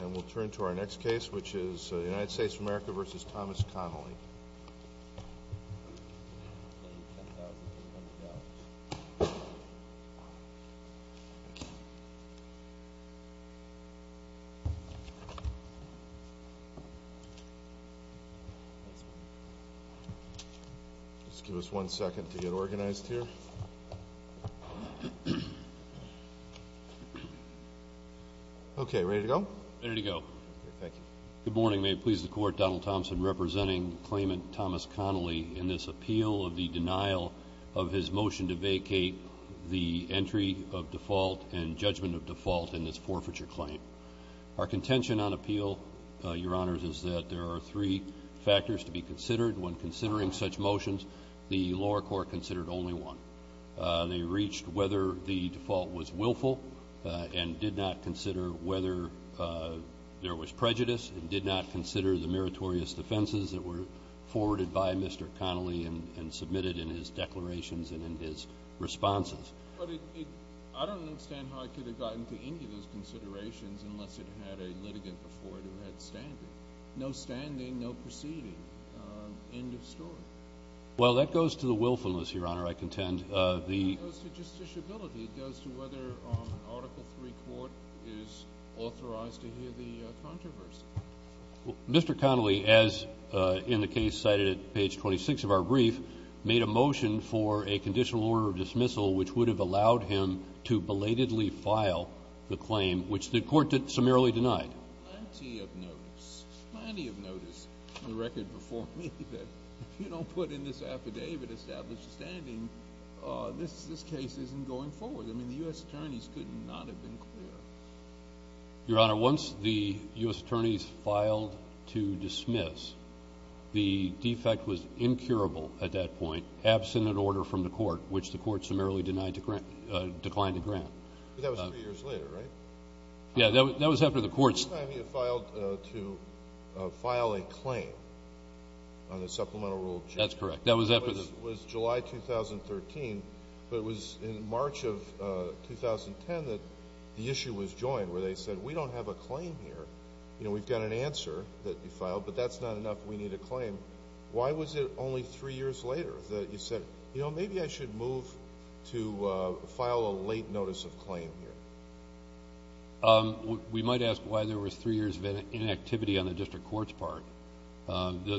And we'll turn to our next case, which is the United States of America v. Thomas Connolly. Just give us one second to get organized here. Okay, ready to go? Ready to go. Okay, thank you. Good morning. May it please the Court, Donald Thompson representing claimant Thomas Connolly in this appeal of the denial of his motion to vacate the entry of default and judgment of default in this forfeiture claim. Our contention on appeal, Your Honors, is that there are three factors to be considered. When considering such motions, the lower court considered only one. They reached whether the default was willful and did not consider whether there was prejudice and did not consider the meritorious defenses that were forwarded by Mr. Connolly and submitted in his declarations and in his responses. But I don't understand how it could have gotten to any of those considerations unless it had a litigant before it who had standing. No standing, no proceeding. End of story. Well, that goes to the willfulness, Your Honor, I contend. It goes to justiciability. It goes to whether an Article III court is authorized to hear the controversy. Mr. Connolly, as in the case cited at page 26 of our brief, made a motion for a conditional order of dismissal which would have allowed him to belatedly file the claim, which the Court summarily denied. Plenty of notice, plenty of notice on the record before me that if you don't put in this affidavit established standing, this case isn't going forward. I mean, the U.S. attorneys could not have been clearer. Your Honor, once the U.S. attorneys filed to dismiss, the defect was incurable at that point, absent an order from the Court, which the Court summarily declined to grant. But that was three years later, right? Yeah, that was after the Court's. The first time you filed to file a claim on the Supplemental Rule of Justice. That's correct. That was after the... It was July 2013, but it was in March of 2010 that the issue was joined where they said we don't have a claim here. You know, we've got an answer that you filed, but that's not enough. We need a claim. Why was it only three years later that you said, You know, maybe I should move to file a late notice of claim here. We might ask why there was three years of inactivity on the district court's part.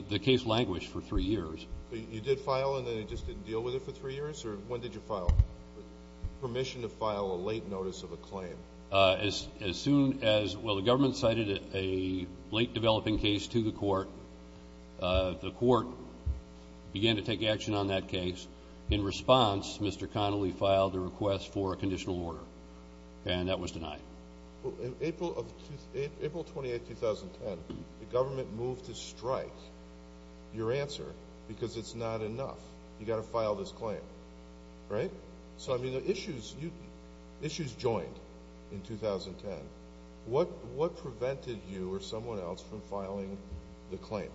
The case languished for three years. You did file, and then it just didn't deal with it for three years? Or when did you file? Permission to file a late notice of a claim. As soon as... Well, the government cited a late developing case to the Court. The Court began to take action on that case. In response, Mr. Connolly filed a request for a conditional order, and that was denied. April 28, 2010, the government moved to strike your answer because it's not enough. You've got to file this claim, right? So, I mean, the issues joined in 2010. What prevented you or someone else from filing the claim?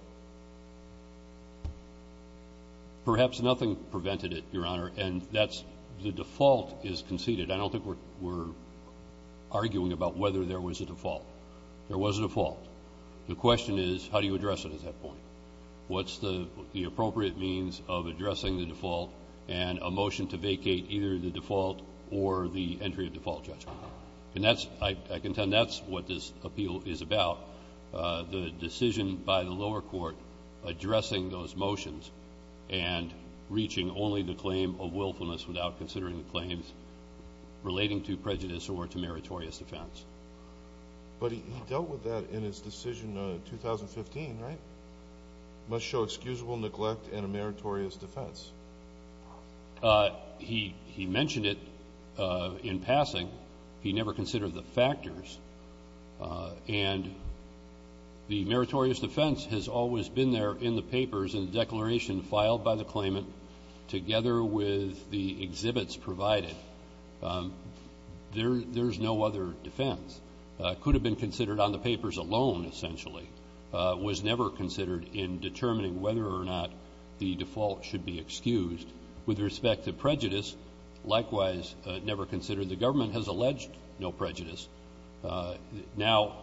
Perhaps nothing prevented it, Your Honor, and that's the default is conceded. I don't think we're arguing about whether there was a default. There was a default. The question is, how do you address it at that point? What's the appropriate means of addressing the default and a motion to vacate either the default or the entry of default judgment? I can tell you that's what this appeal is about, the decision by the lower court addressing those motions and reaching only the claim of willfulness without considering the claims relating to prejudice or to meritorious defense. But he dealt with that in his decision in 2015, right? Must show excusable neglect and a meritorious defense. He mentioned it in passing. He never considered the factors. And the meritorious defense has always been there in the papers in the declaration filed by the claimant together with the exhibits provided. There's no other defense. It could have been considered on the papers alone, essentially. It was never considered in determining whether or not the default should be excused. With respect to prejudice, likewise, never considered. The government has alleged no prejudice. Now,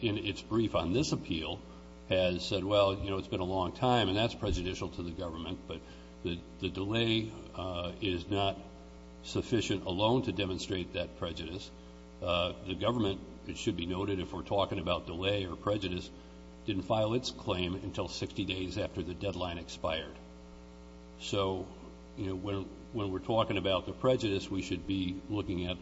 in its brief on this appeal, has said, well, you know, it's been a long time, and that's prejudicial to the government, but the delay is not sufficient alone to demonstrate that prejudice. The government, it should be noted if we're talking about delay or prejudice, didn't file its claim until 60 days after the deadline expired. So, you know, when we're talking about the prejudice, we should be looking at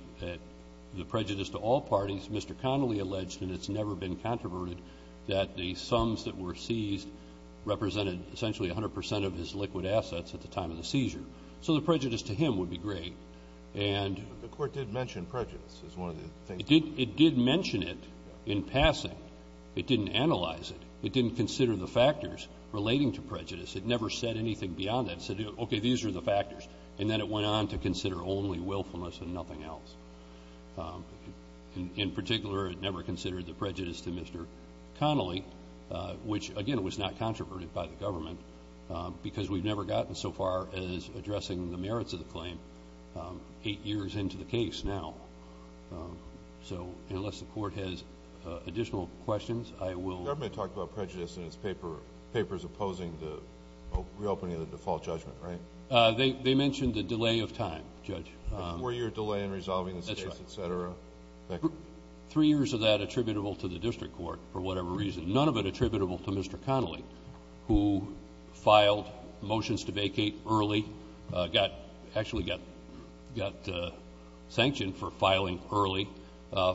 the prejudice to all parties. Mr. Connolly alleged, and it's never been controverted, that the sums that were seized represented essentially 100 percent of his liquid assets at the time of the seizure. So the prejudice to him would be great. The Court did mention prejudice as one of the things. It did mention it in passing. It didn't analyze it. It didn't consider the factors relating to prejudice. It never said anything beyond that. It said, okay, these are the factors, and then it went on to consider only willfulness and nothing else. In particular, it never considered the prejudice to Mr. Connolly, which, again, was not controverted by the government because we've never gotten so far as addressing the merits of the claim eight years into the case now. So unless the Court has additional questions, I will. The government talked about prejudice in its papers opposing the reopening of the default judgment, right? They mentioned the delay of time, Judge. A four-year delay in resolving this case, et cetera. That's right. Three years of that attributable to the district court for whatever reason, none of it attributable to Mr. Connolly, who filed motions to vacate early, actually got sanctioned for filing early,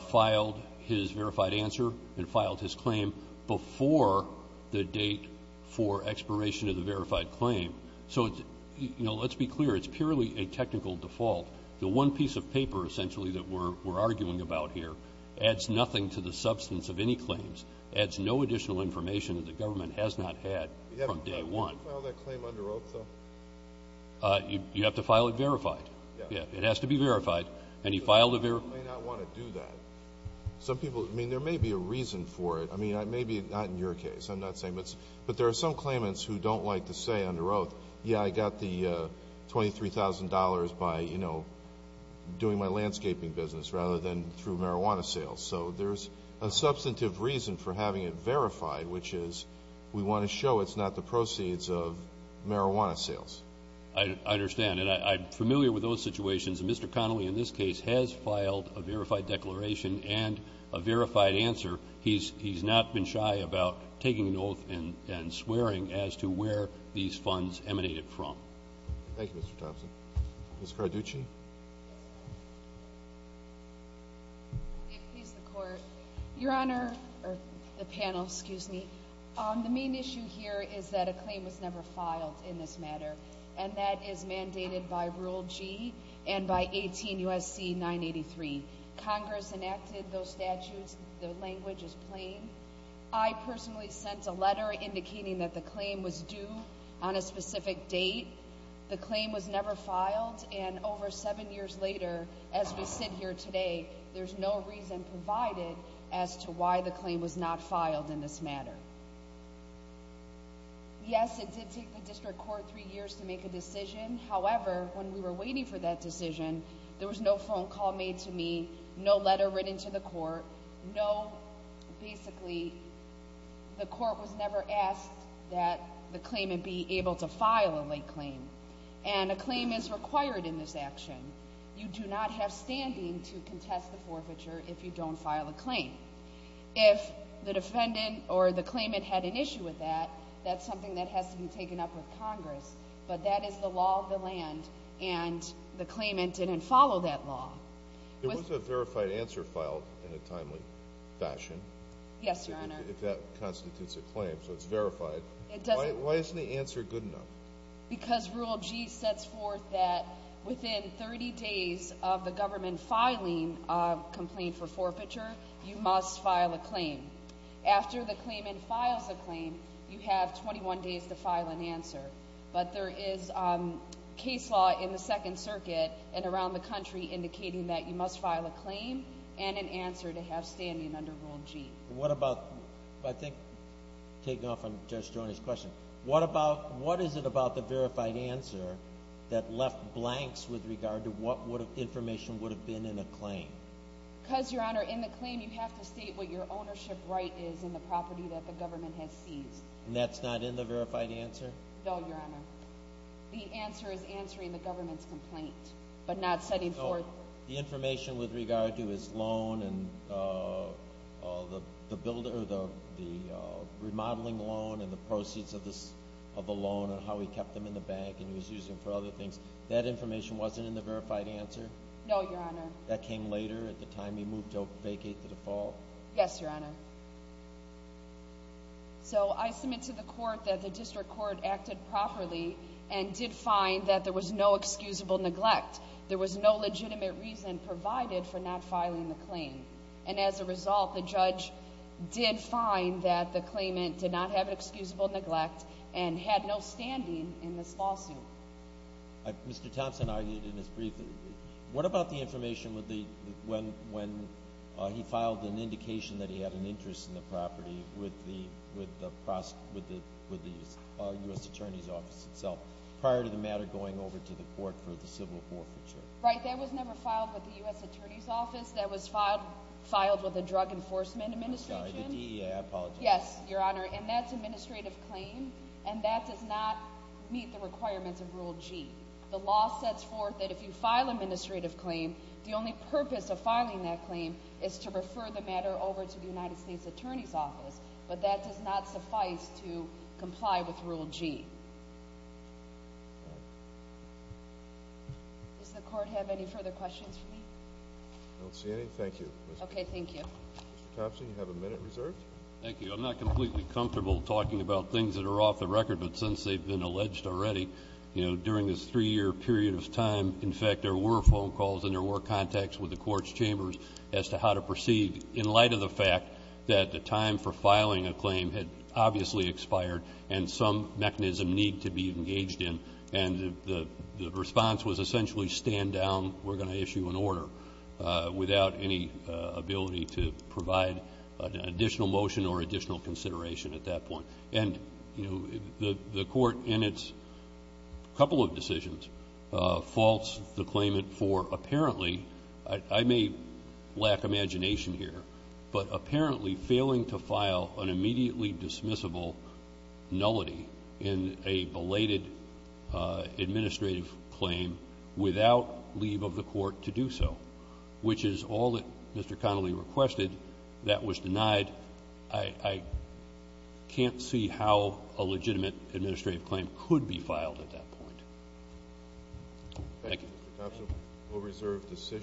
filed his verified answer, and filed his claim before the date for expiration of the verified claim. So, you know, let's be clear. It's purely a technical default. The one piece of paper, essentially, that we're arguing about here adds nothing to the substance of any claims, adds no additional information that the government has not had from day one. You have to file that claim under oath, though? You have to file it verified. Yes. It has to be verified. And you file the verified. You may not want to do that. Some people – I mean, there may be a reason for it. I mean, maybe not in your case. I'm not saying it's – but there are some claimants who don't like to say under oath, yeah, I got the $23,000 by, you know, doing my landscaping business rather than through marijuana sales. So there's a substantive reason for having it verified, which is we want to show it's not the proceeds of marijuana sales. I understand. And I'm familiar with those situations. And Mr. Connolly, in this case, has filed a verified declaration and a verified answer. He's not been shy about taking an oath and swearing as to where these funds emanated from. Thank you, Mr. Thompson. Ms. Carducci. May it please the Court. Your Honor – or the panel, excuse me. The main issue here is that a claim was never filed in this matter, and that is mandated by Rule G and by 18 U.S.C. 983. Congress enacted those statutes. The language is plain. I personally sent a letter indicating that the claim was due on a specific date. The claim was never filed, and over seven years later, as we sit here today, there's no reason provided as to why the claim was not filed in this matter. Yes, it did take the district court three years to make a decision. However, when we were waiting for that decision, there was no phone call made to me, no letter written to the court, no – And a claim is required in this action. You do not have standing to contest the forfeiture if you don't file a claim. If the defendant or the claimant had an issue with that, that's something that has to be taken up with Congress. But that is the law of the land, and the claimant didn't follow that law. There was a verified answer filed in a timely fashion. Yes, Your Honor. If that constitutes a claim, so it's verified. It doesn't – Why isn't the answer good enough? Because Rule G sets forth that within 30 days of the government filing a complaint for forfeiture, you must file a claim. After the claimant files a claim, you have 21 days to file an answer. But there is case law in the Second Circuit and around the country indicating that you must file a claim and an answer to have standing under Rule G. What about – I think taking off on Judge Strona's question – what is it about the verified answer that left blanks with regard to what information would have been in a claim? Because, Your Honor, in the claim you have to state what your ownership right is in the property that the government has seized. And that's not in the verified answer? No, Your Honor. The answer is answering the government's complaint, but not setting forth – The information with regard to his loan and the remodeling loan and the proceeds of the loan and how he kept them in the bank and he was using them for other things, that information wasn't in the verified answer? No, Your Honor. That came later at the time he moved to vacate the default? Yes, Your Honor. So I submit to the court that the district court acted properly and did find that there was no excusable neglect. There was no legitimate reason provided for not filing the claim. And as a result, the judge did find that the claimant did not have excusable neglect and had no standing in this lawsuit. Mr. Thompson argued in his brief, what about the information when he filed an indication that he had an interest in the property with the U.S. Attorney's Office itself prior to the matter going over to the court for the civil forfeiture? Right. That was never filed with the U.S. Attorney's Office. That was filed with the Drug Enforcement Administration. I'm sorry, the DEA. I apologize. Yes, Your Honor. And that's an administrative claim and that does not meet the requirements of Rule G. The law sets forth that if you file an administrative claim, the only purpose of filing that claim is to refer the matter over to the United States Attorney's Office. But that does not suffice to comply with Rule G. Does the court have any further questions for me? I don't see any. Thank you. Okay, thank you. Mr. Thompson, you have a minute reserved. Thank you. I'm not completely comfortable talking about things that are off the record, but since they've been alleged already, you know, during this three-year period of time, in fact, there were phone calls and there were contacts with the court's chambers as to how to proceed in light of the fact that the time for filing a claim had obviously expired and some mechanism needed to be engaged in, and the response was essentially stand down, we're going to issue an order without any ability to provide an additional motion or additional consideration at that point. And, you know, the court in its couple of decisions faults the claimant for apparently, I may lack imagination here, but apparently failing to file an immediately dismissible nullity in a belated administrative claim without leave of the court to do so, which is all that Mr. Connolly requested, that was denied. I can't see how a legitimate administrative claim could be filed at that point. Thank you. Mr. Thompson, we'll reserve decisions.